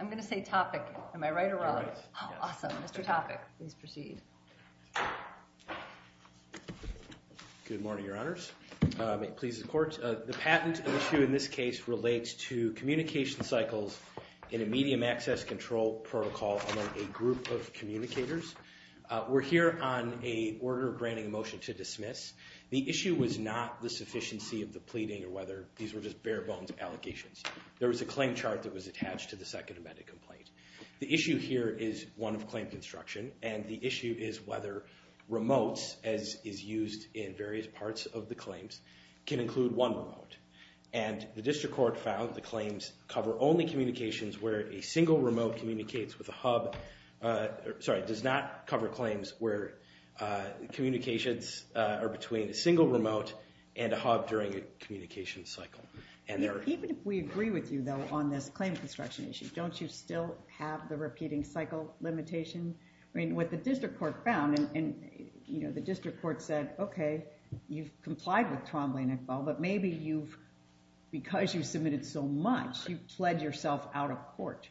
I'm going to say topic, am I right or wrong? Awesome. Mr. Topic, please proceed. Good morning, your honors. It pleases the court. The patent issue in this case relates to communication cycles in a medium access control protocol among a group of communicators. We're here on a order granting a motion to dismiss. The issue was not the sufficiency of the pleading or whether these were just bare bones allegations. There was a claim chart that was attached to the second amended complaint. The issue here is one of claim construction, and the issue is whether remotes, as is used in various parts of the claims, can include one remote. And the district court found the claims cover only communications where a single remote communicates with a hub. Sorry, does not cover claims where communications are between a single remote and a hub during a communication cycle. Even if we agree with you, though, on this claim construction issue, don't you still have the repeating cycle limitation? I mean, what the district court found, and the district court said, OK, you've complied with Twombly and Iqbal, but maybe you've, because you submitted so much, you've pled yourself out of court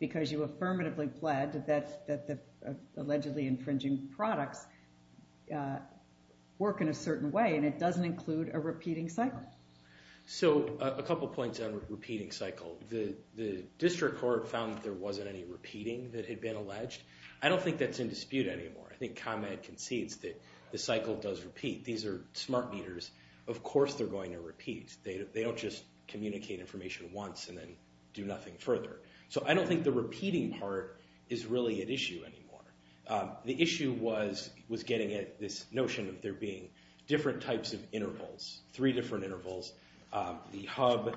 because you affirmatively pled that the allegedly infringing products work in a certain way, and it doesn't include a repeating cycle. So a couple of points on repeating cycle. The district court found that there wasn't any repeating that had been alleged. I don't think that's in dispute anymore. I think ComEd concedes that the cycle does repeat. These are smart meters. Of course they're going to repeat. They don't just communicate information once and then do nothing further. So I don't think the repeating part is really an issue anymore. The issue was getting at this notion of there being different types of intervals, three different intervals. The hub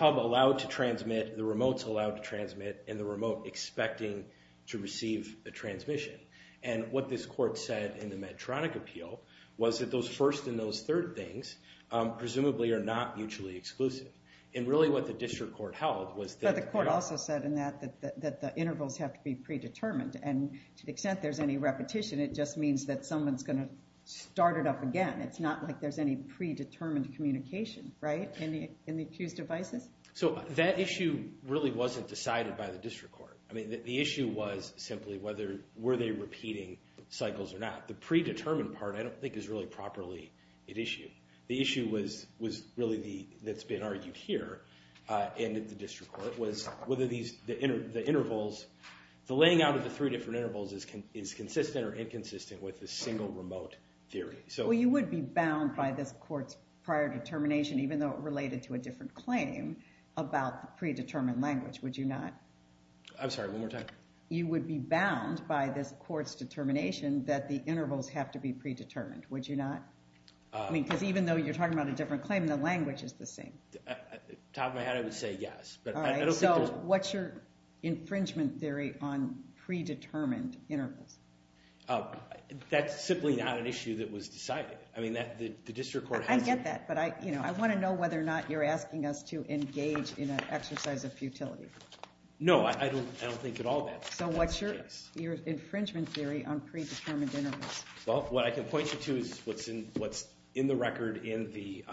allowed to transmit, the remotes allowed to transmit, and the remote expecting to receive the transmission. And what this court said in the Medtronic appeal was that those first and those third things presumably are not mutually exclusive. And really what the district court held was that- But the court also said in that that the intervals have to be predetermined. And to the extent there's any repetition, it just means that someone's going to start it up again. It's not like there's any predetermined communication in the accused devices. So that issue really wasn't decided by the district court. I mean, the issue was simply whether were they repeating cycles or not. The predetermined part I don't think is really properly at issue. The issue was really that's been argued here and at the district court was whether the intervals, the laying out of the three different intervals is consistent or inconsistent with the single remote theory. Well, you would be bound by this court's prior determination, even though it related to a different claim, about the predetermined language, would you not? I'm sorry. One more time. You would be bound by this court's determination that the intervals have to be predetermined, would you not? I mean, because even though you're talking about a different claim, the language is the same. Top of my head, I would say yes. So what's your infringement theory on predetermined intervals? That's simply not an issue that was decided. I get that, but I want to know whether or not you're asking us to engage in an exercise of futility. No, I don't think at all that's the case. So what's your infringement theory on predetermined intervals? Well, what I can point you to is what's in the record in the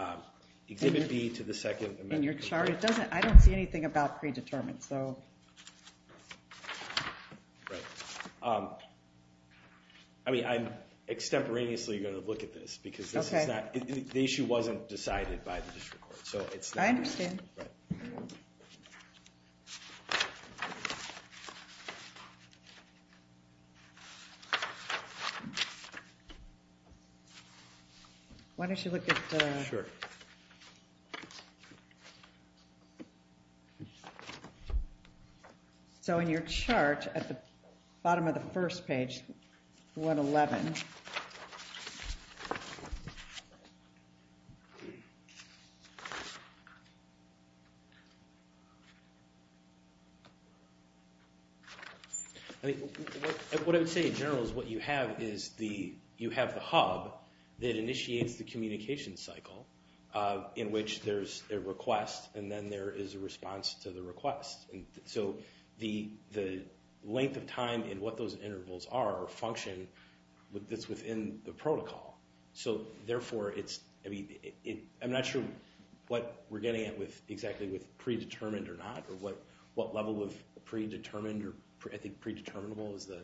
exhibit B to the second amendment. In your chart? I don't see anything about predetermined. I mean, I'm extemporaneously going to look at this, because the issue wasn't decided by the district court. I understand. Sure. So in your chart at the bottom of the first page, 111. What I would say in general is what you have is you have the hub that initiates the communication cycle in which there's a request, and then there is a response to the request. And so the length of time in what those intervals are function that's within the protocol. So therefore, I'm not sure what we're getting at exactly with predetermined or not, or what level of predetermined or I think predeterminable is the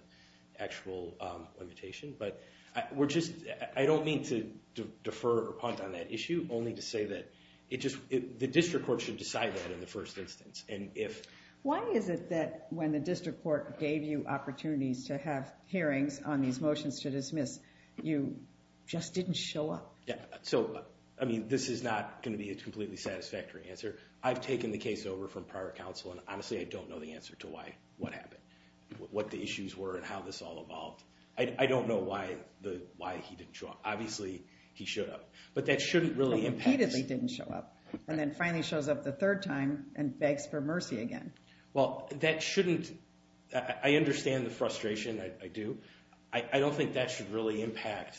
actual limitation. But I don't mean to defer or punt on that issue, only to say that the district court should decide that in the first instance. Why is it that when the district court gave you opportunities to have hearings on these motions to dismiss, you just didn't show up? So this is not going to be a completely satisfactory answer. I've taken the case over from prior counsel, and honestly, I don't know the answer to what happened, what the issues were, and how this all evolved. I don't know why he didn't show up. Obviously, he showed up. But that shouldn't really impact us. Repeatedly didn't show up. And then finally shows up the third time and begs for mercy again. Well, that shouldn't. I understand the frustration. I do. I don't think that should really impact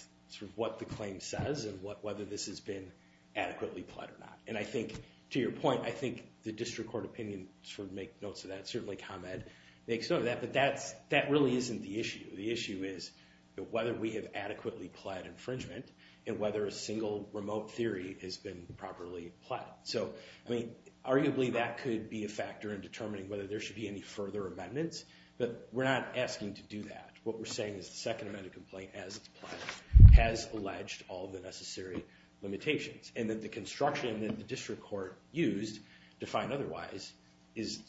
what the claim says and whether this has been adequately plied or not. And I think, to your point, I think the district court opinion should make notes of that. Certainly, Khamed makes note of that. But that really isn't the issue. The issue is whether we have adequately plied infringement and whether a single remote theory has been properly plied. So arguably, that could be a factor in determining whether there should be any further amendments. But we're not asking to do that. What we're saying is the second amendment of the complaint has alleged all the necessary limitations and that the construction that the district court used to find otherwise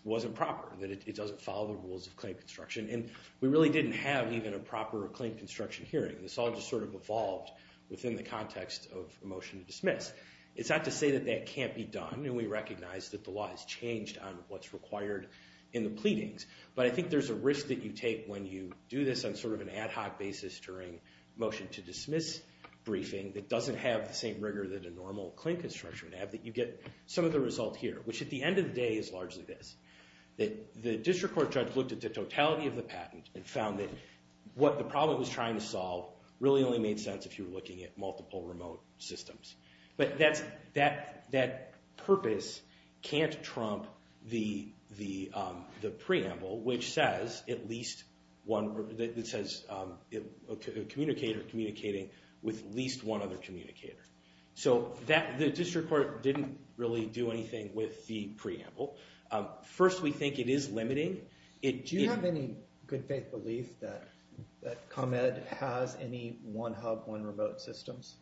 wasn't proper, that it doesn't follow the rules of claim construction. And we really didn't have even a proper claim construction hearing. This all just sort of evolved within the context of a motion to dismiss. It's not to say that that can't be done. And we recognize that the law has changed on what's required in the pleadings. But I think there's a risk that you take when you do this on sort of an ad hoc basis during motion to dismiss briefing that doesn't have the same rigor that a normal claim construction would have, that you get some of the result here. Which, at the end of the day, is largely this. That the district court judge looked at the totality of the patent and found that the problem it was trying to solve really only made sense if you were looking at multiple remote systems. But that purpose can't trump the preamble, which says a communicator communicating with at least one other communicator. So the district court didn't really do anything with the preamble. First, we think it is limiting. Do you have any good faith belief that ComEd has any one hub, one remote systems?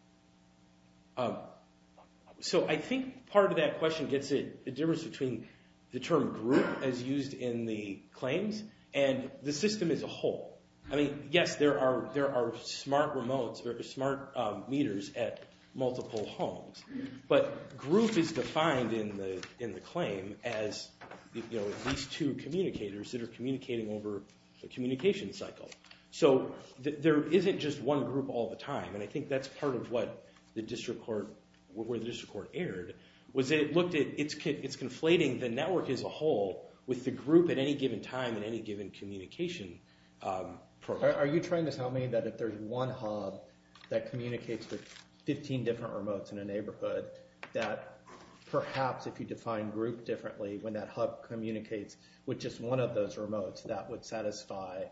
So I think part of that question gets at the difference between the term group, as used in the claims, and the system as a whole. I mean, yes, there are smart remotes or smart meters at multiple homes. But group is defined in the claim as these two communicators that are communicating over the communication cycle. So there isn't just one group all the time. And I think that's part of where the district court erred, was it looked at it's conflating the network as a whole with the group at any given time in any given communication program. Are you trying to tell me that if there's one hub that communicates with 15 different remotes in a neighborhood, that perhaps if you define group differently, when that hub communicates with just one of those remotes, that would satisfy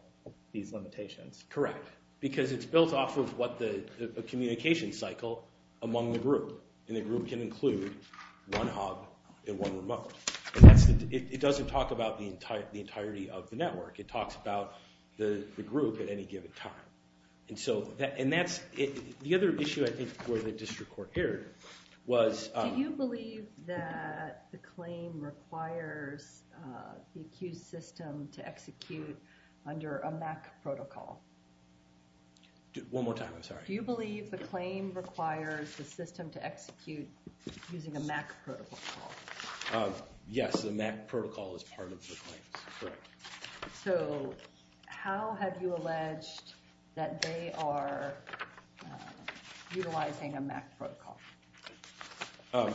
these limitations? Correct. Because it's built off of what the communication cycle among the group. And the group can include one hub and one remote. It doesn't talk about the entirety of the network. It talks about the group at any given time. And that's the other issue, I think, where the district court erred. Do you believe that the claim requires the accused system to execute under a MAC protocol? One more time, I'm sorry. Do you believe the claim requires the system to execute using a MAC protocol? Yes, the MAC protocol is part of the claims, correct. So how have you alleged that they are utilizing a MAC protocol?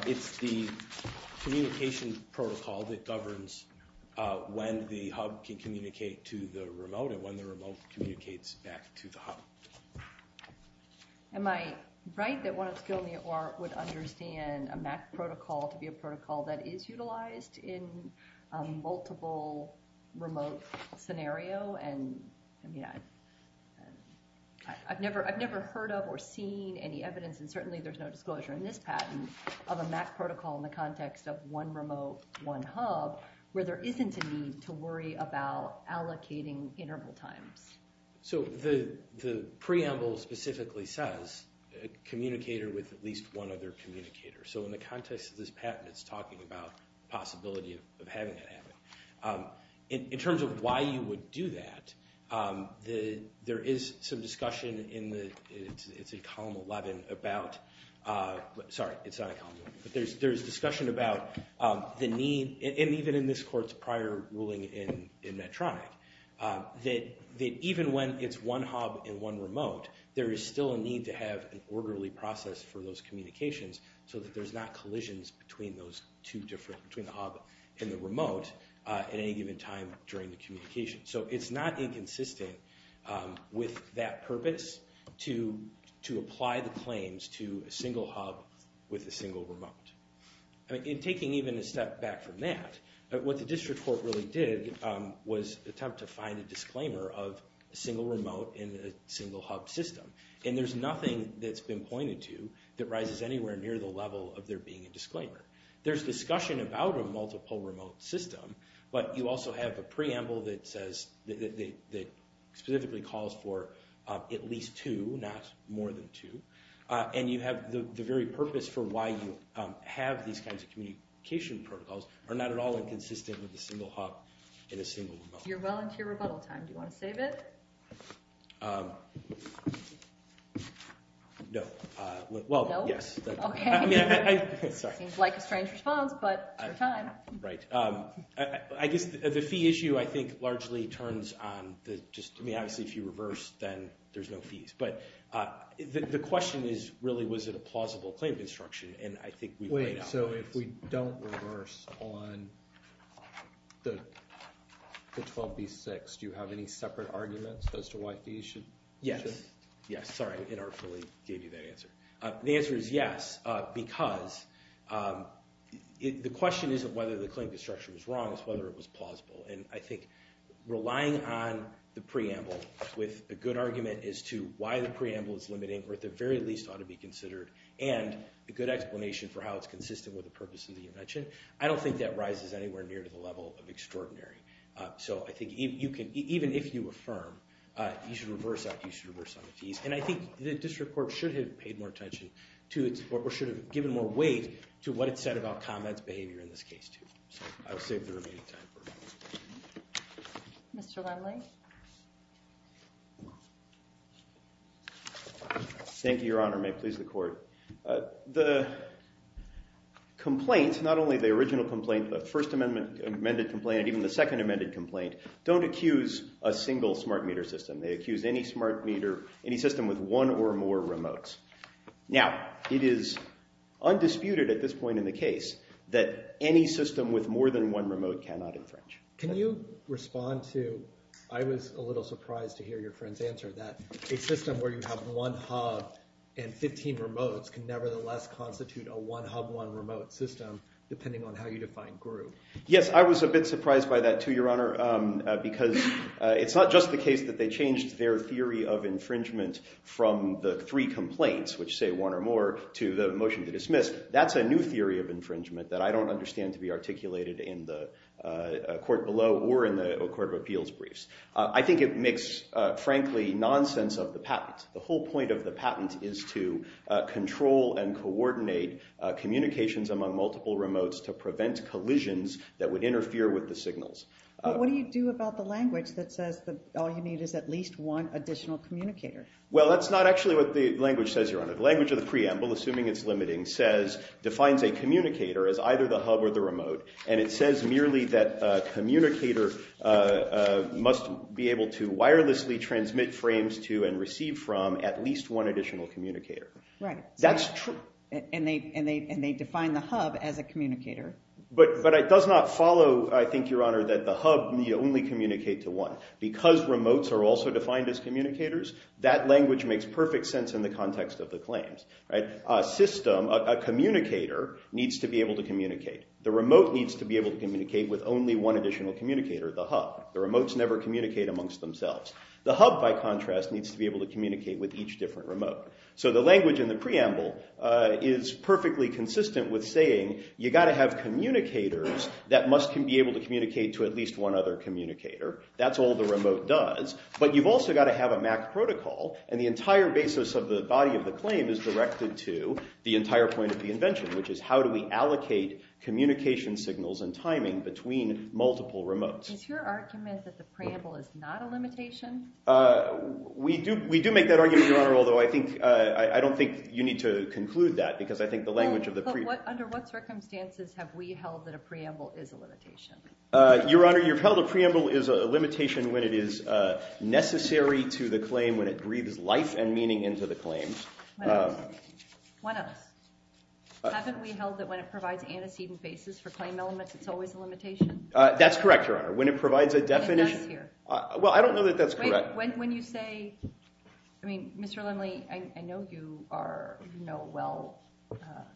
It's the communication protocol that governs when the hub can communicate to the remote and when the remote communicates back to the hub. Am I right that one of the people in the OR would understand a MAC protocol to be a protocol that And I've never heard of or seen any evidence, and certainly there's no disclosure in this patent, of a MAC protocol in the context of one remote, one hub, where there isn't a need to worry about allocating interval times. So the preamble specifically says a communicator with at least one other communicator. So in the context of this patent, it's talking about the possibility of having that happen. In terms of why you would do that, there is some discussion in column 11 about the need, and even in this court's prior ruling in Medtronic, that even when it's one hub and one remote, there is still a need to have an orderly process for those communications so that there's not in the remote at any given time during the communication. So it's not inconsistent with that purpose to apply the claims to a single hub with a single remote. In taking even a step back from that, what the district court really did was attempt to find a disclaimer of a single remote in a single hub system. And there's nothing that's been pointed to that rises anywhere near the level of there being a disclaimer. There's discussion about a multiple remote system, but you also have a preamble that specifically calls for at least two, not more than two. And the very purpose for why you have these kinds of communication protocols are not at all inconsistent with a single hub and a single remote. You're well into your rebuttal time. Do you want to save it? No. Well, yes. OK. Seems like a strange response, but your time. Right. I guess the fee issue, I think, largely turns on the just, I mean, obviously, if you reverse, then there's no fees. But the question is, really, was it a plausible claim construction? And I think we've laid out the answer. Wait, so if we don't reverse on the 12B-6, do you have any separate arguments as to why fees should? Yes. Yes, sorry. I inarticulately gave you that answer. The answer is yes, because the question isn't whether the claim construction was wrong. It's whether it was plausible. And I think relying on the preamble with a good argument as to why the preamble is limiting, or at the very least ought to be considered, and a good explanation for how it's consistent with the purpose of the invention, I don't think that rises anywhere near to the level of extraordinary. So I think even if you affirm, you should reverse on the fees. And I think the district court should have paid more attention to it, or should have given more weight to what it said about comments behavior in this case, too. So I'll save the remaining time for it. Mr. Wembley. Thank you, Your Honor. May it please the court. The complaint, not only the original complaint, the First Amendment amended complaint, even the Second Amended complaint, don't accuse a single smart meter system. They accuse any smart meter, any system with one or more remotes. Now, it is undisputed at this point in the case that any system with more than one remote cannot infringe. Can you respond to, I was a little surprised to hear your friend's answer, that a system where you have one hub and 15 remotes can nevertheless constitute a one hub, one remote system, depending on how you define GRU. Yes, I was a bit surprised by that, too, Your Honor, because it's not just the case that they changed their theory of infringement from the three complaints, which say one or more, to the motion to dismiss. That's a new theory of infringement that I don't understand to be articulated in the court below or in the Court of Appeals briefs. I think it makes, frankly, nonsense of the patent. The whole point of the patent is to control and coordinate communications among multiple remotes to prevent collisions that would interfere with the signals. But what do you do about the language that says that all you need is at least one additional communicator? Well, that's not actually what the language says, Your Honor. The language of the preamble, assuming it's limiting, defines a communicator as either the hub or the remote, and it says merely that a communicator must be able to wirelessly transmit frames to and receive from at least one additional communicator. Right. That's true. And they define the hub as a communicator. But it does not follow, I think, Your Honor, that the hub, you only communicate to one. Because remotes are also defined as communicators, that language makes perfect sense in the context of the claims. A system, a communicator, needs to be able to communicate. The remote needs to be able to communicate with only one additional communicator, the hub. The remotes never communicate amongst themselves. The hub, by contrast, needs to be able to communicate with each different remote. So the language in the preamble is perfectly consistent with saying you've got to have communicators that must be able to communicate to at least one other communicator. That's all the remote does. But you've also got to have a MAC protocol, and the entire basis of the body of the claim is directed to the entire point of the invention, which is how do we allocate communication signals and timing between multiple remotes. Is your argument that the preamble is not a limitation? We do make that argument, Your Honor, although I don't think you need to conclude that, because I think the language of the preamble... But under what circumstances have we held that a preamble is a limitation? Your Honor, you've held a preamble is a limitation when it is necessary to the claim, when it breathes life and meaning into the claim. What else? What else? Haven't we held that when it provides antecedent basis for claim elements, it's always a limitation? That's correct, Your Honor. When it provides a definition... It does here. Well, I don't know that that's correct. Wait. When you say... I mean, Mr. Lindley, I know you are... You know well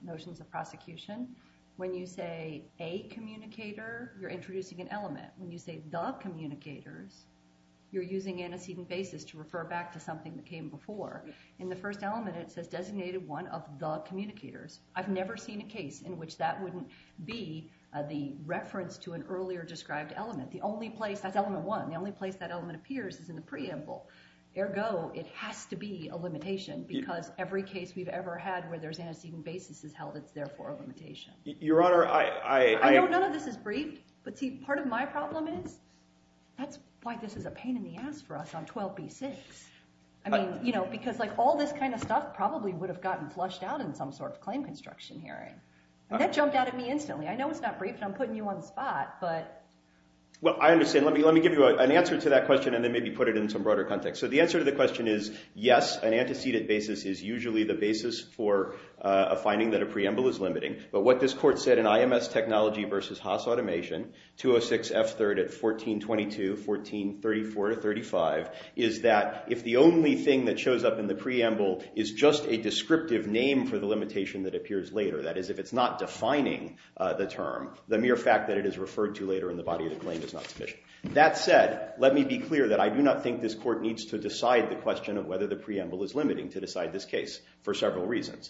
notions of prosecution. When you say a communicator, you're introducing an element. When you say the communicators, you're using antecedent basis to refer back to something that came before. In the first element, it says designated one of the communicators. I've never seen a case in which that wouldn't be the reference to an earlier described element. The only place... That's element one. The only place that element appears is in the preamble. Ergo, it has to be a limitation because every case we've ever had where there's antecedent basis is held, it's therefore a limitation. Your Honor, I... I know none of this is briefed, but see, part of my problem is that's why this is a pain in the ass for us on 12b-6. I mean, you know, because like all this kind of stuff probably would have gotten flushed out in some sort of claim construction hearing. And that jumped out at me instantly. I know it's not briefed, and I'm putting you on the spot, but... Well, I understand. Let me give you an answer to that question and then maybe put it in some broader context. So the answer to the question is, yes, an antecedent basis is usually the basis for a finding that a preamble is limiting. But what this court said in I.M.S. Technology v. Haas Automation, 206 F. 3rd at 1422, 1434-35, is that if the only thing that shows up in the preamble is just a descriptive name for the limitation that appears later, that is, if it's not defining the term, the mere fact that it is referred to later in the body of the claim is not sufficient. That said, let me be clear that I do not think this court needs to decide the question of whether the preamble is limiting to decide this case, for several reasons.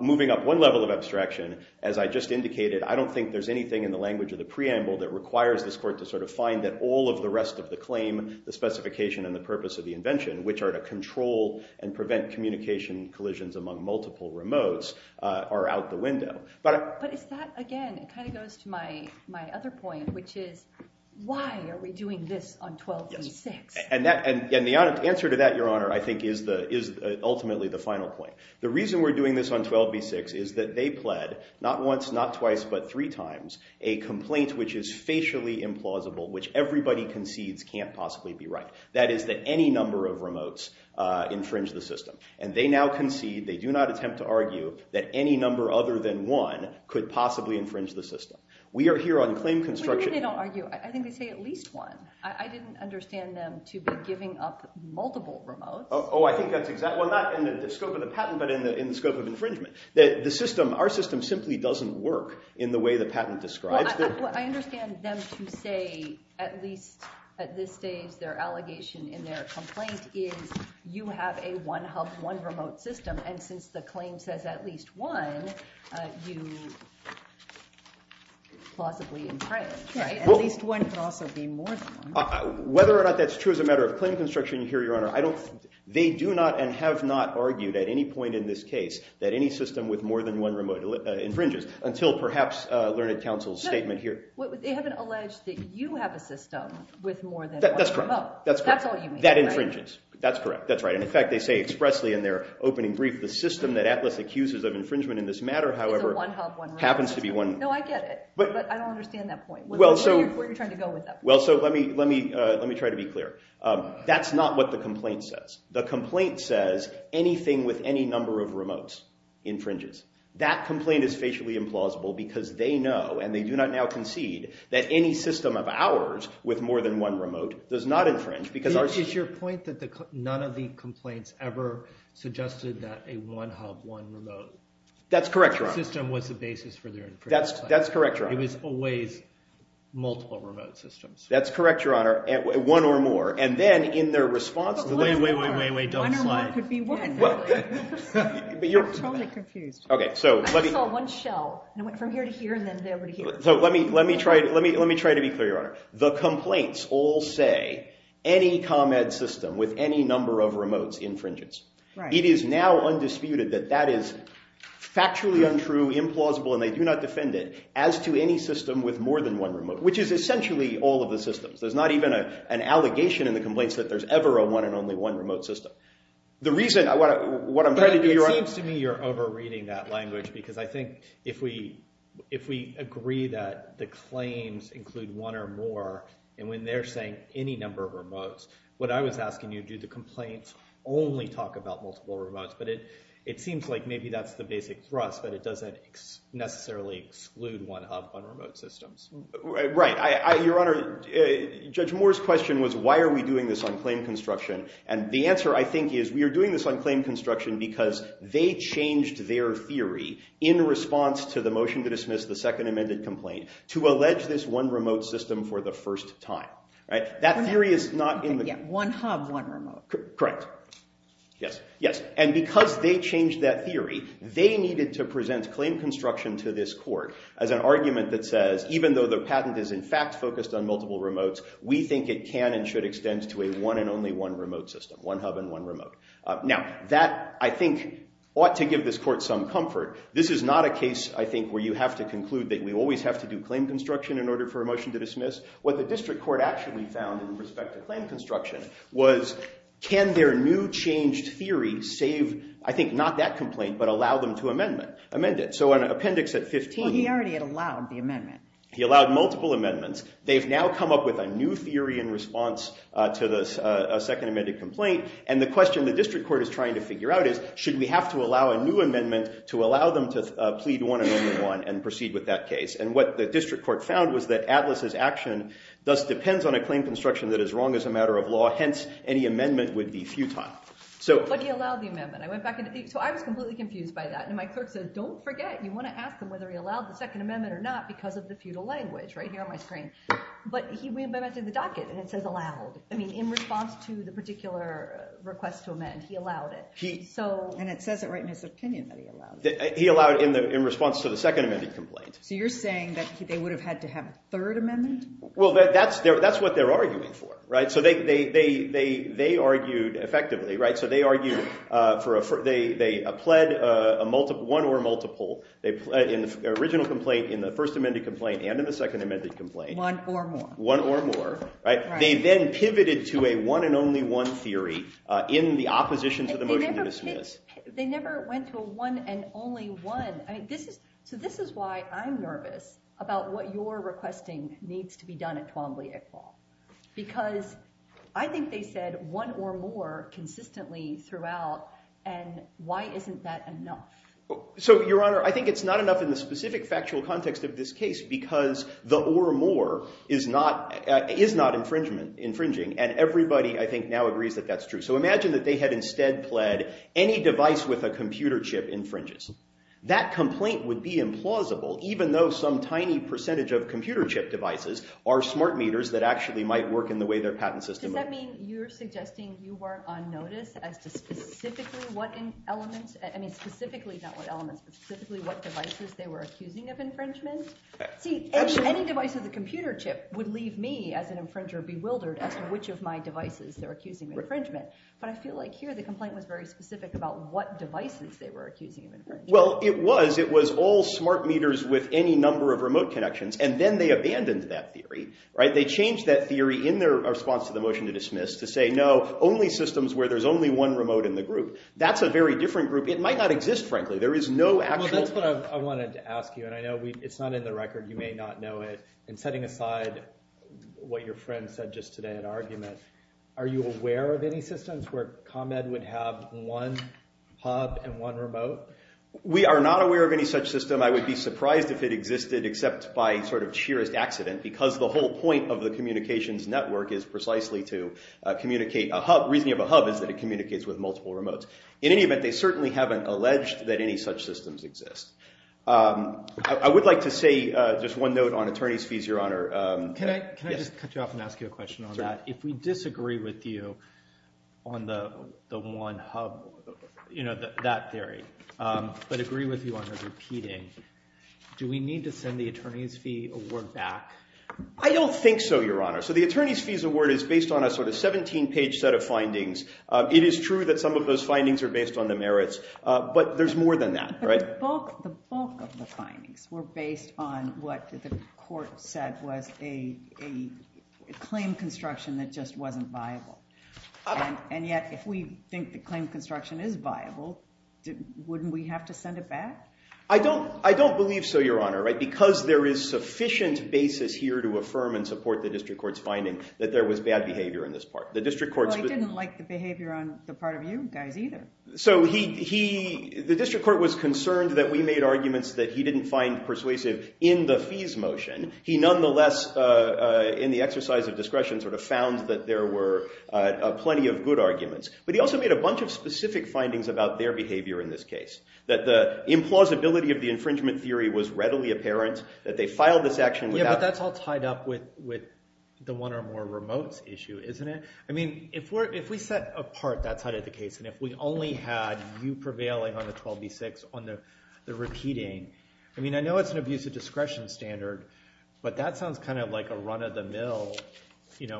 Moving up one level of abstraction, as I just indicated, I don't think there's anything in the language of the preamble that requires this court to sort of find that all of the rest of the claim, the specification, and the purpose of the invention, which are to control and prevent communication collisions among multiple remotes, are out the window. But is that, again, it kind of goes to my other point, which is, why are we doing this on 12b-6? And the answer to that, Your Honor, I think is ultimately the final point. The reason we're doing this on 12b-6 is that they pled, not once, not twice, but three times, a complaint which is facially implausible, which everybody concedes can't possibly be right. That is that any number of remotes infringe the system. And they now concede, they do not attempt to argue, that any number other than one could possibly infringe the system. We are here on claim construction. They don't argue. I think they say at least one. I didn't understand them to be giving up multiple remotes. Oh, I think that's exactly... Well, not in the scope of the patent, but in the scope of infringement. Our system simply doesn't work in the way the patent describes it. Well, I understand them to say, at least at this stage, their allegation in their complaint is, you have a one-hub, one-remote system, and since the claim says at least one, you plausibly infringe, right? At least one could also be more than one. Whether or not that's true as a matter of claim construction, here, Your Honor, I don't... They do not and have not argued at any point in this case that any system with more than one remote infringes, until perhaps Learned Counsel's statement here. But they haven't alleged that you have a system with more than one remote. That's correct. That's correct. That's all you mean, right? That infringes. That's correct. That's right. And in fact, they say expressly in their opening brief, the system that Atlas accuses of infringement in this matter, however... It's a one-hub, one-remote. ...happens to be one... No, I get it, but I don't understand that point. Well, so... Where are you trying to go with that? Well, so let me try to be clear. That's not what the complaint says. The complaint says anything with any number of remotes infringes. That complaint is facially implausible because they know, and they do not now concede, does not infringe because our... Is your point that none of the complaints ever suggested that a one-hub, one-remote... That's correct, Your Honor. ...system was the basis for their infringement? That's correct, Your Honor. It was always multiple remote systems. That's correct, Your Honor. One or more. And then in their response to the... Wait, wait, wait, wait, wait, wait, don't slide. One or more could be one. I'm totally confused. Okay, so let me... I saw one shell. It went from here to here and then over to here. So let me try to be clear, Your Honor. The complaints all say any ComEd system with any number of remotes infringes. Right. It is now undisputed that that is factually untrue, implausible, and they do not defend it, as to any system with more than one remote, which is essentially all of the systems. There's not even an allegation in the complaints that there's ever a one and only one remote system. The reason, what I'm trying to do, Your Honor... But it seems to me you're over-reading that language because I think if we agree that the claims include one or more and when they're saying any number of remotes, what I was asking you, do the complaints only talk about multiple remotes? But it seems like maybe that's the basic thrust, but it doesn't necessarily exclude one hub on remote systems. Right. Your Honor, Judge Moore's question was, why are we doing this on claim construction? And the answer, I think, is we are doing this on claim construction because they changed their theory in response to the motion to dismiss the second amended complaint to allege this one remote system for the first time. That theory is not in the... One hub, one remote. Correct. Yes. And because they changed that theory, they needed to present claim construction to this court as an argument that says, even though the patent is in fact focused on multiple remotes, we think it can and should extend to a one and only one remote system, one hub and one remote. Now, that, I think, ought to give this court some comfort. This is not a case, I think, where you have to conclude that we always have to do claim construction in order for a motion to dismiss. What the district court actually found in respect to claim construction was, can their new changed theory save, I think, not that complaint, but allow them to amend it? So an appendix at 15... He already had allowed the amendment. He allowed multiple amendments. They've now come up with a new theory in response to a second amended complaint. And the question the district court is trying to figure out is, should we have to allow a new amendment to allow them to plead one and only one and proceed with that case? And what the district court found was that Atlas's action thus depends on a claim construction that is wrong as a matter of law. Hence, any amendment would be futile. But he allowed the amendment. So I was completely confused by that. And my clerk says, don't forget, you want to ask him whether he allowed the Second Amendment or not because of the feudal language right here on my screen. But he amended the docket, and it says allowed. In response to the particular request to amend, he allowed it. And it says it right in his opinion that he allowed it. He allowed it in response to the Second Amendment complaint. So you're saying that they would have had to have a third amendment? Well, that's what they're arguing for. Right? So they argued effectively. Right? So they argued for a pled one or multiple in the original complaint, in the first amended complaint, and in the second amended complaint. One or more. One or more. Right? They then pivoted to a one and only one theory in the opposition to the motion to dismiss. They never went to a one and only one. So this is why I'm nervous about what you're requesting needs to be done at Twombly-Iqbal. Because I think they said one or more consistently throughout. And why isn't that enough? So, Your Honor, I think it's not enough in the specific factual context of this case because the or more is not infringing. And everybody, I think, now agrees that that's true. So imagine that they had instead pled that any device with a computer chip infringes. That complaint would be implausible, even though some tiny percentage of computer chip devices are smart meters that actually might work in the way their patent system would. Does that mean you're suggesting you weren't on notice as to specifically what elements? I mean, specifically not what elements, but specifically what devices they were accusing of infringement? See, any device with a computer chip would leave me, as an infringer, bewildered as to which of my devices they're accusing of infringement. But I feel like here, the complaint was very specific about what devices they were accusing of infringement. Well, it was. It was all smart meters with any number of remote connections. And then they abandoned that theory. They changed that theory in their response to the motion to dismiss to say, no, only systems where there's only one remote in the group. That's a very different group. It might not exist, frankly. There is no actual. Well, that's what I wanted to ask you. And I know it's not in the record. You may not know it. And setting aside what your friend said just today in that argument, are you aware of any systems where ComEd would have one hub and one remote? We are not aware of any such system. I would be surprised if it existed, except by sort of sheer accident, because the whole point of the communications network is precisely to communicate a hub. Reasoning of a hub is that it communicates with multiple remotes. In any event, they certainly haven't alleged that any such systems exist. I would like to say just one note on attorney's fees, Your Honor. Can I just cut you off and ask you a question on that? If we disagree with you on the one hub, that theory, but agree with you on the repeating, do we need to send the attorney's fee award back? I don't think so, Your Honor. So the attorney's fees award is based on a sort of 17-page set of findings. It is true that some of those findings are based on the merits. But there's more than that, right? But the bulk of the findings were that there was a claim construction that just wasn't viable. And yet, if we think the claim construction is viable, wouldn't we have to send it back? I don't believe so, Your Honor. Because there is sufficient basis here to affirm and support the district court's finding that there was bad behavior in this part. Well, he didn't like the behavior on the part of you guys either. So the district court was concerned that we made arguments that he didn't find persuasive in the fees motion. He nonetheless, in the exercise of discretion, sort of found that there were plenty of good arguments. But he also made a bunch of specific findings about their behavior in this case, that the implausibility of the infringement theory was readily apparent, that they filed this action without. Yeah, but that's all tied up with the one or more remotes issue, isn't it? I mean, if we set apart that side of the case, and if we only had you prevailing on the 12B6 on the repeating, I mean, I know it's an abuse of discretion standard. But that sounds kind of like a run-of-the-mill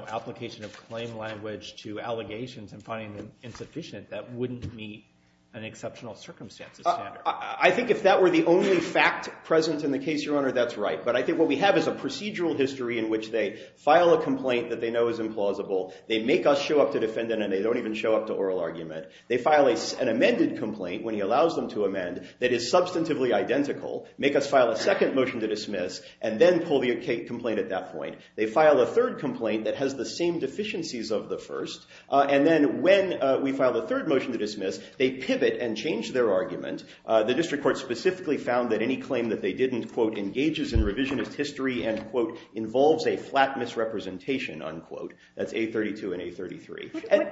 application of claim language to allegations and finding them insufficient that wouldn't meet an exceptional circumstances standard. I think if that were the only fact present in the case, Your Honor, that's right. But I think what we have is a procedural history in which they file a complaint that they know is implausible. They make us show up to defendant, and they don't even show up to oral argument. They file an amended complaint, when he allows them to amend, that is substantively identical, make us file a second motion to dismiss, and then pull the complaint at that point. They file a third complaint that has the same deficiencies of the first. And then when we file the third motion to dismiss, they pivot and change their argument. The district court specifically found that any claim that they didn't, quote, engages in revisionist history, end quote, involves a flat misrepresentation, unquote. That's 832 and 833.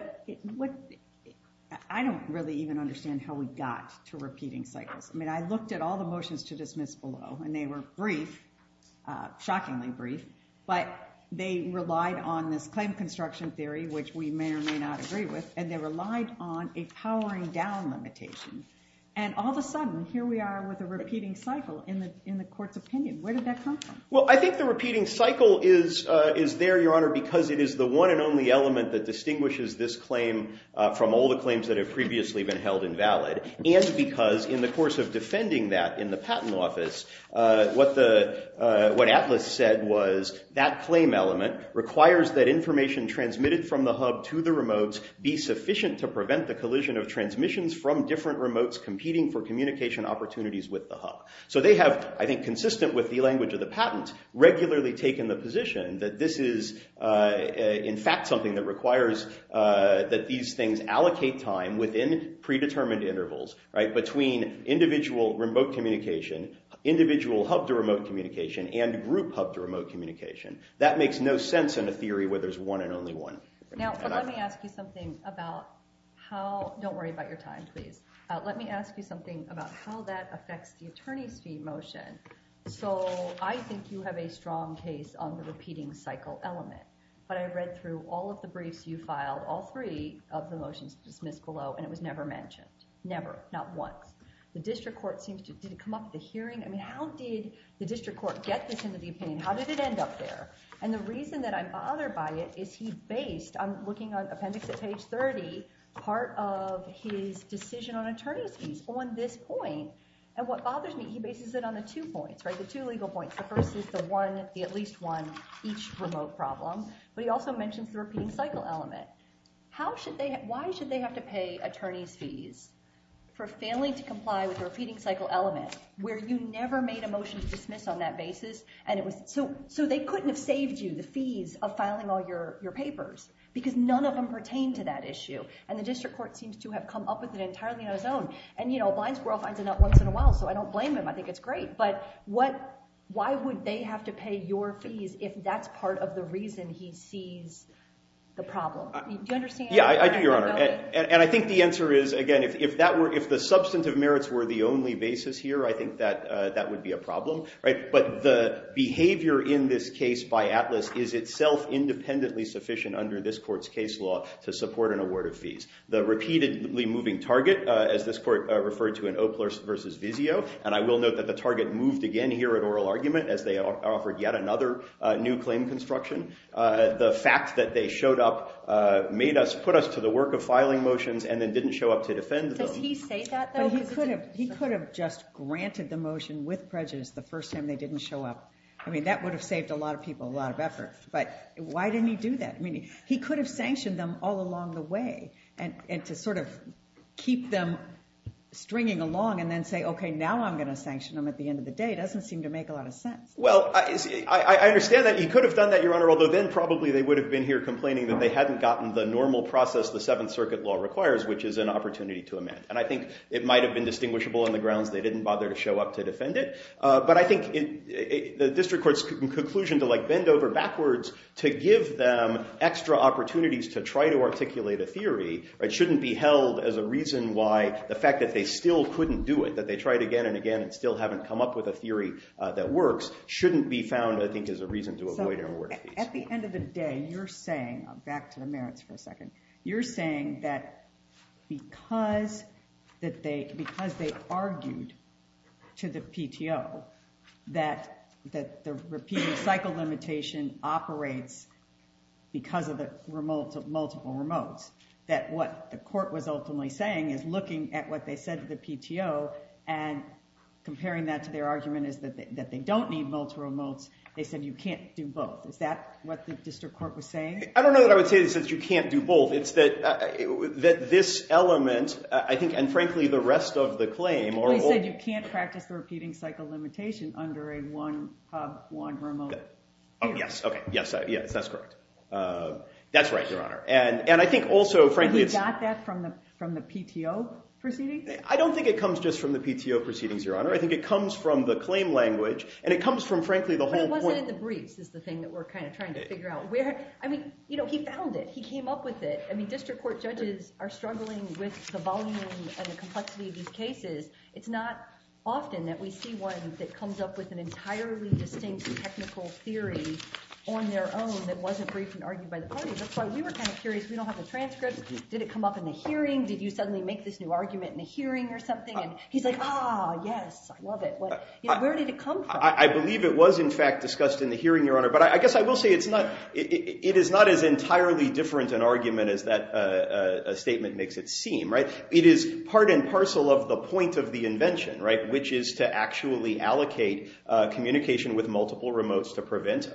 I don't really even understand how we got to repeating cycles. I mean, I looked at all the motions to dismiss below, and they were brief, shockingly brief. But they relied on this claim construction theory, which we may or may not agree with. And they relied on a powering down limitation. And all of a sudden, here we are with a repeating cycle in the court's opinion. Where did that come from? Well, I think the repeating cycle is there, Your Honor, because it is the one and only element that distinguishes this claim from all the claims that have previously been held invalid. And because in the course of defending that in the patent office, what Atlas said was that claim element requires that information transmitted from the hub to the remotes be sufficient to prevent the collision of transmissions from different remotes competing for communication opportunities with the hub. So they have, I think consistent with the language of the patent, regularly taken the position that this is, in fact, something that these things allocate time within predetermined intervals between individual remote communication, individual hub to remote communication, and group hub to remote communication. That makes no sense in a theory where there's one and only one. Now, let me ask you something about how, don't worry about your time, please. Let me ask you something about how that affects the attorney's fee motion. So I think you have a strong case on the repeating cycle element. But I read through all of the briefs you filed, all three, of the motions dismissed below, and it was never mentioned. Never, not once. The district court seems to, did it come up at the hearing? I mean, how did the district court get this into the opinion? How did it end up there? And the reason that I'm bothered by it is he based, I'm looking on appendix at page 30, part of his decision on attorney's fees on this point. And what bothers me, he bases it on the two points, the two legal points. The first is the one, the at least one, each remote problem. But he also mentions the repeating cycle element. Why should they have to pay attorney's fees for failing to comply with the repeating cycle element, where you never made a motion to dismiss on that basis? So they couldn't have saved you the fees of filing all your papers, because none of them pertain to that issue. And the district court seems to have come up with it entirely on his own. And a blind squirrel finds a nut once in a while, so I don't blame him. I think it's great. But why would they have to pay your fees if that's part of the reason he sees the problem? Do you understand? Yeah, I do, Your Honor. And I think the answer is, again, if the substantive merits were the only basis here, I think that would be a problem. But the behavior in this case by Atlas is itself independently sufficient under this court's case law to support an award of fees. The repeatedly moving target, as this court referred to in Opler versus Vizio, and I will note that the target moved again here at oral argument, as they offered yet another new claim construction. The fact that they showed up put us to the work of filing motions and then didn't show up to defend them. Does he say that, though? But he could have just granted the motion with prejudice the first time they didn't show up. I mean, that would have saved a lot of people a lot of effort. But why didn't he do that? I mean, he could have sanctioned them all along the way. And to sort of keep them stringing along and then say, OK, now I'm going to sanction them at the end of the day, doesn't seem to make a lot of sense. Well, I understand that he could have done that, Your Honor, although then probably they would have been here complaining that they hadn't gotten the normal process the Seventh Circuit law requires, which is an opportunity to amend. And I think it might have been distinguishable on the grounds they didn't bother to show up to defend it. But I think the district court's conclusion to bend over backwards to give them extra opportunities to try to articulate a theory shouldn't be held as a reason why the fact that they still couldn't do it, that they tried again and again and still haven't come up with a theory that works, shouldn't be found, I think, as a reason to avoid an award case. So at the end of the day, you're saying, back to the merits for a second, you're saying that because they argued to the PTO that the repeated cycle limitation operates because of the multiple remotes, that what the court was ultimately saying is looking at what they said to the PTO and comparing that to their argument is that they don't need multiple remotes. They said you can't do both. Is that what the district court was saying? I don't know that I would say this, that you can't do both. It's that this element, I think, and frankly, the rest of the claim are all- They said you can't practice the repeating cycle limitation under a one remote. Oh, yes. OK. Yes. Yes, that's correct. That's right, Your Honor. And I think also, frankly, it's- Does it come from the PTO proceedings? I don't think it comes just from the PTO proceedings, Your Honor. I think it comes from the claim language. And it comes from, frankly, the whole point- But it wasn't in the briefs, is the thing that we're kind of trying to figure out. I mean, he found it. He came up with it. I mean, district court judges are struggling with the volume and the complexity of these cases. It's not often that we see one that comes up with an entirely distinct technical theory on their own that wasn't briefed and argued by the parties. That's why we were kind of curious. We don't have the transcripts. Did it come up in the hearing? Did you suddenly make this new argument in the hearing or something? And he's like, ah, yes. I love it. Where did it come from? I believe it was, in fact, discussed in the hearing, Your Honor. But I guess I will say it is not as entirely different an argument as that statement makes it seem. It is part and parcel of the point of the invention, which is to actually allocate communication with multiple remotes to prevent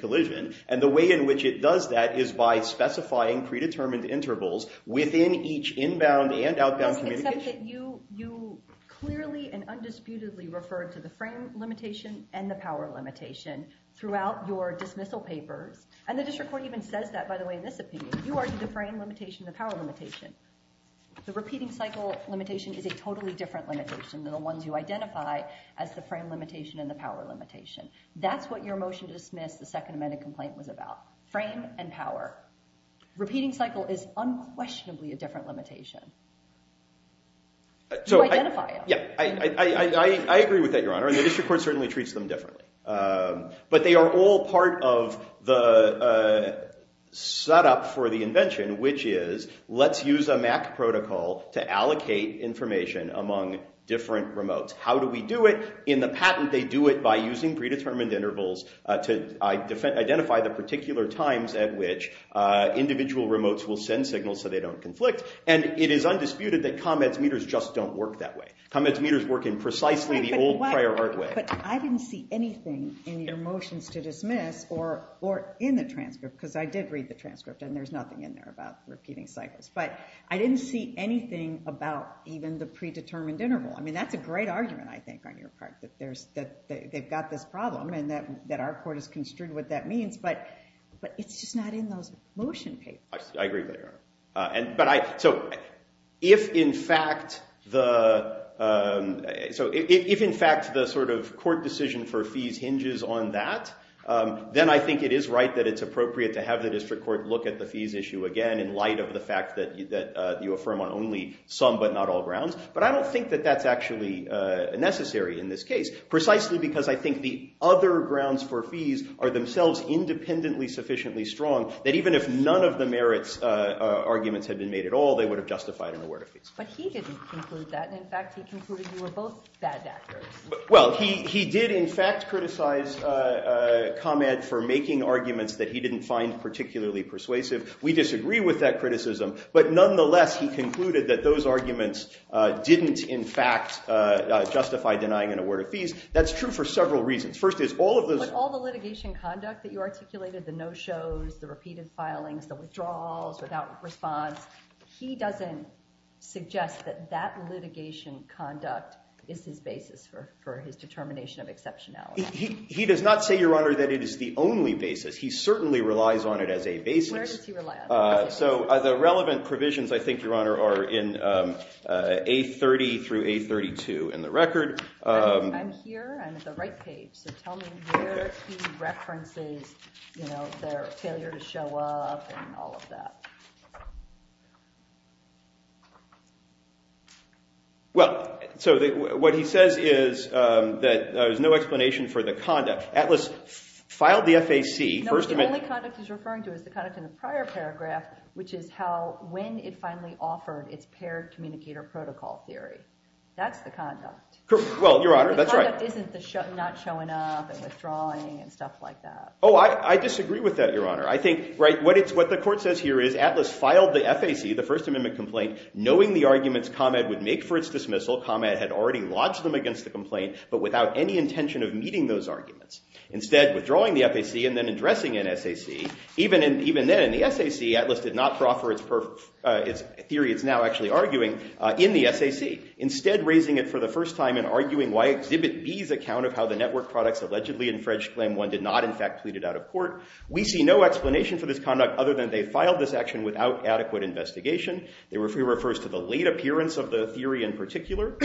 collision. And the way in which it does that is by specifying predetermined intervals within each inbound and outbound communication. I think it's something that you clearly and undisputedly referred to the frame limitation and the power limitation throughout your dismissal papers. And the district court even says that, by the way, in this opinion. You argued the frame limitation and the power limitation. The repeating cycle limitation is a totally different limitation than the ones you identify as the frame limitation and the power limitation. That's what your motion to dismiss the Second Amendment complaint was about. Frame and power. Repeating cycle is unquestionably a different limitation. You identify them. Yeah. I agree with that, Your Honor. And the district court certainly treats them differently. But they are all part of the setup for the invention, which is let's use a MAC protocol to allocate information among different remotes. How do we do it? In the patent, they do it by using predetermined intervals to identify the particular times at which individual remotes will send signals so they don't conflict. And it is undisputed that comments meters just don't work that way. Comments meters work in precisely the old prior art way. But I didn't see anything in your motions to dismiss or in the transcript. Because I did read the transcript. And there's nothing in there about repeating cycles. But I didn't see anything about even the predetermined interval. I mean, that's a great argument, I think, on your part. That they've got this problem. And that our court has construed what that means. But it's just not in those motion papers. I agree with you, Your Honor. So if, in fact, the court decision for fees hinges on that, then I think it is right that it's appropriate to have the district court look at the fees issue again in light of the fact that you affirm on only some but not all grounds. But I don't think that that's actually necessary in this case, precisely because I think the other grounds for fees are themselves independently sufficiently strong, that even if none of the merits arguments had been made at all, they would have justified an award of fees. But he didn't conclude that. In fact, he concluded you were both bad actors. Well, he did, in fact, criticize comment for making arguments that he didn't find particularly persuasive. We disagree with that criticism. But nonetheless, he concluded that those arguments didn't, in fact, justify denying an award of fees. That's true for several reasons. First is, all of those- But all the litigation conduct that you articulated, the no-shows, the repeated filings, the withdrawals without response, he doesn't suggest that that litigation conduct is his basis for his determination of exceptionality. He does not say, Your Honor, that it is the only basis. He certainly relies on it as a basis. Where does he rely on it? So the relevant provisions, I think, Your Honor, are in A30 through A32 in the record. I'm here. I'm at the right page. So tell me where he references their failure to show up and all of that. Well, so what he says is that there's no explanation for the conduct. Atlas filed the FAC. No, the only conduct he's referring to is the conduct in the prior paragraph, which is how, when it finally offered its paired communicator protocol theory. That's the conduct. Well, Your Honor, that's right. The conduct isn't the not showing up and withdrawing and stuff like that. Oh, I disagree with that, Your Honor. I think, right, what the court says here is Atlas filed the FAC, the First Amendment complaint, knowing the arguments ComEd would make for its dismissal. ComEd had already lodged them against the complaint, but without any intention of meeting those arguments. Instead, withdrawing the FAC and then addressing an SAC. Even then, in the SAC, Atlas did not proffer its theory it's now actually arguing in the SAC. Instead, raising it for the first time and arguing why Exhibit B's account of how the network products allegedly infringed Claim 1 did not, in fact, plead it out of court. We see no explanation for this conduct other than they filed this action without adequate investigation. It refers to the late appearance of the theory in particular.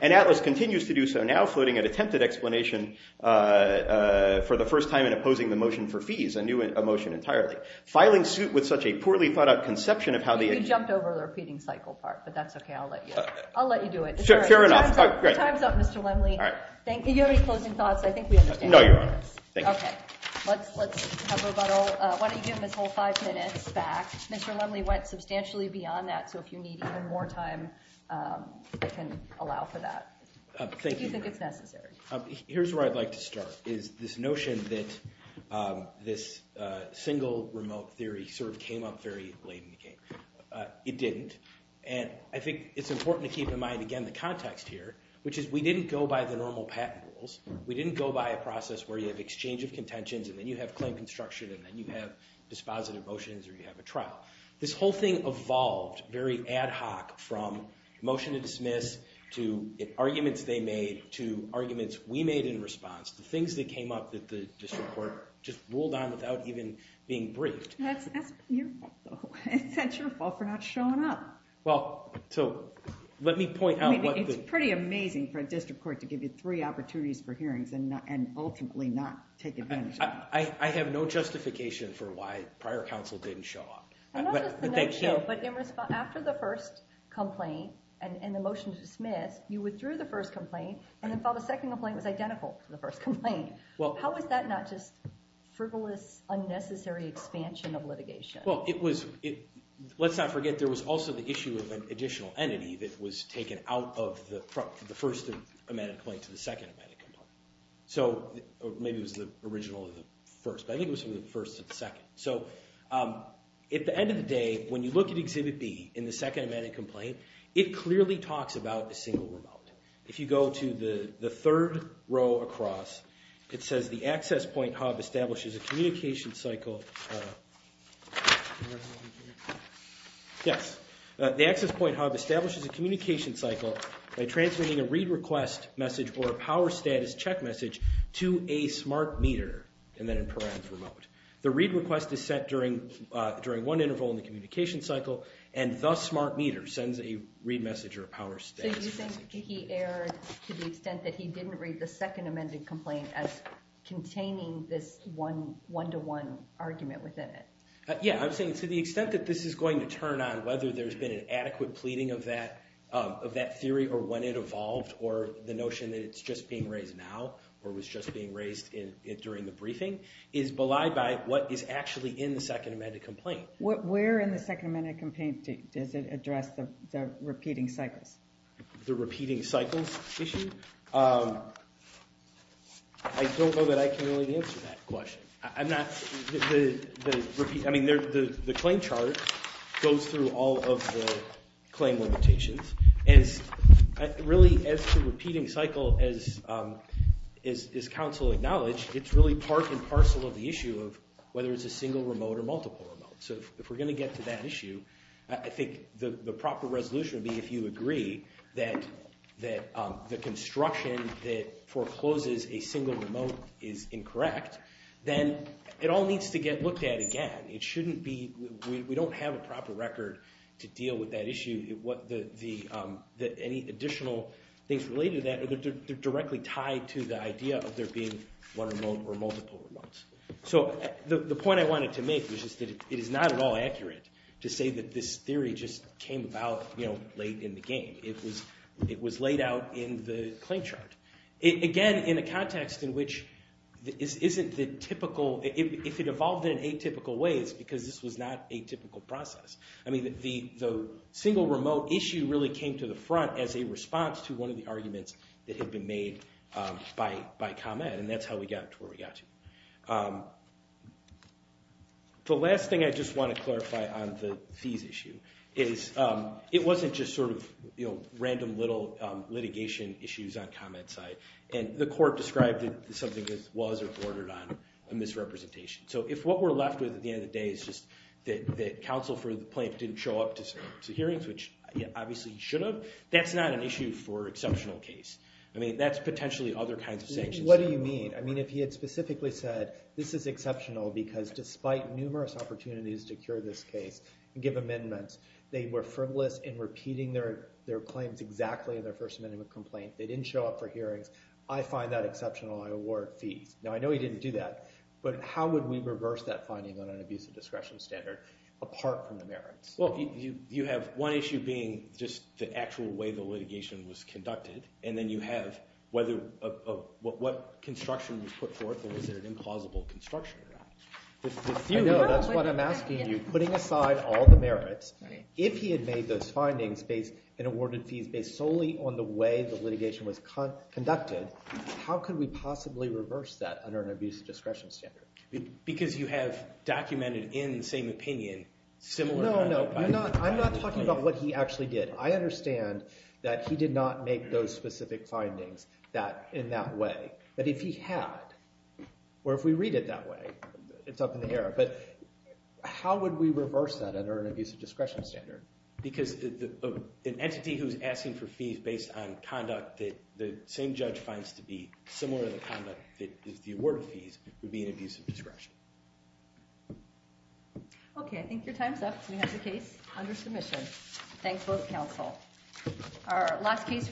And Atlas continues to do so now, floating an attempted explanation for the first time in opposing the motion for fees, a new motion entirely. Filing suit with such a poorly thought out conception of how the ex- You jumped over the repeating cycle part, but that's OK. I'll let you do it. Sure enough. The time's up, Mr. Lemley. All right. Thank you. Do you have any closing thoughts? I think we understand. No, Your Honor. Thank you. OK. Let's have rebuttal. Why don't you give him his whole five minutes back? Mr. Lemley went substantially beyond that, so if you need even more time, I can allow for that. Thank you, Your Honor. If you think it's necessary. Here's where I'd like to start, is this notion that this single remote theory sort of came up very late in the game. It didn't. And I think it's important to keep in mind, again, the context here, which is we didn't go by the normal patent rules. We didn't go by a process where you have exchange of contentions, and then you have claim construction, and then you have dispositive motions, or you have a trial. This whole thing evolved very ad hoc from motion to dismiss to arguments they made to arguments we made in response. The things that came up that the district court just ruled on without even being briefed. That's your fault, though. So let me point out what the- It's pretty amazing for a district court to give you three opportunities for hearings and ultimately not take advantage of them. I have no justification for why prior counsel didn't show up. Not just the nutshell, but after the first complaint and the motion to dismiss, you withdrew the first complaint, and then filed a second complaint that was identical to the first complaint. How is that not just frivolous, unnecessary expansion of litigation? Let's not forget there was also the issue of an additional entity that was taken out of the first amended complaint to the second amended complaint. Maybe it was the original or the first, but I think it was from the first to the second. At the end of the day, when you look at Exhibit B in the second amended complaint, it clearly talks about a single remote. If you go to the third row across, it says the access point hub establishes a communication cycle. Yes, the access point hub establishes a communication cycle by transmitting a read request message or a power status check message to a smart meter and then in params remote. The read request is set during one interval in the communication cycle, and thus smart meter sends a read message or a power status. So you think he erred to the extent that he didn't read the second amended complaint as containing this one-to-one argument within it? Yeah, I'm saying to the extent that this is going to turn on whether there's been an adequate pleading of that theory or when it evolved or the notion that it's just being raised now or was just being raised during the briefing is belied by what is actually in the second amended complaint. Where in the second amended complaint does it address the repeating cycles? The repeating cycles issue? I don't know that I can really answer that question. The claim chart goes through all of the claim limitations. And really, as to repeating cycle, as counsel acknowledged, it's really part and parcel of the issue of whether it's a single remote or multiple remote. So if we're going to get to that issue, I think the proper resolution would be if you agree that the construction that forecloses a single remote is incorrect, then it all needs to get looked at again. We don't have a proper record to deal with that issue. Any additional things related to that are directly tied to the idea of there being one remote or multiple remotes. So the point I wanted to make was just that it is not at all accurate to say that this theory just came about late in the game. It was laid out in the claim chart. Again, in a context in which if it evolved in atypical ways, because this was not a typical process. I mean, the single remote issue really came to the front as a response to one of the arguments that had been made by ComEd. And that's how we got to where we got to. The last thing I just want to clarify on the fees issue is it wasn't just sort of random little litigation issues on ComEd's side. And the court described it as something that was or bordered on a misrepresentation. So if what we're left with at the end of the day is just that counsel for the plaintiff didn't show up to hearings, which obviously he should have, that's not an issue for exceptional case. I mean, that's potentially other kinds of sanctions. What do you mean? I mean, if he had specifically said, this is exceptional, because despite numerous opportunities to cure this case and give amendments, they were frivolous in repeating their claims exactly in their first amendment complaint. They didn't show up for hearings. I find that exceptional. I award fees. Now, I know he didn't do that. But how would we reverse that finding on an abusive discretion standard apart from the merits? Well, you have one issue being just the actual way the litigation was conducted. And then you have what construction was put forth or was it an implausible construction? I know. That's what I'm asking you. Putting aside all the merits, if he had made those findings and awarded fees based solely on the way the litigation was conducted, how could we possibly reverse that under an abusive discretion standard? Because you have documented in the same opinion similar kind of finding. No, no. I'm not talking about what he actually did. I understand that he did not make those specific findings in that way. But if he had, or if we read it that way, it's up in the air. But how would we reverse that under an abusive discretion standard? Because an entity who's asking for fees based on conduct that the same judge finds to be similar to the conduct that is the award of fees would be an abusive discretion. OK, I think your time's up. We have the case under submission. Thanks both counsel. Our last case.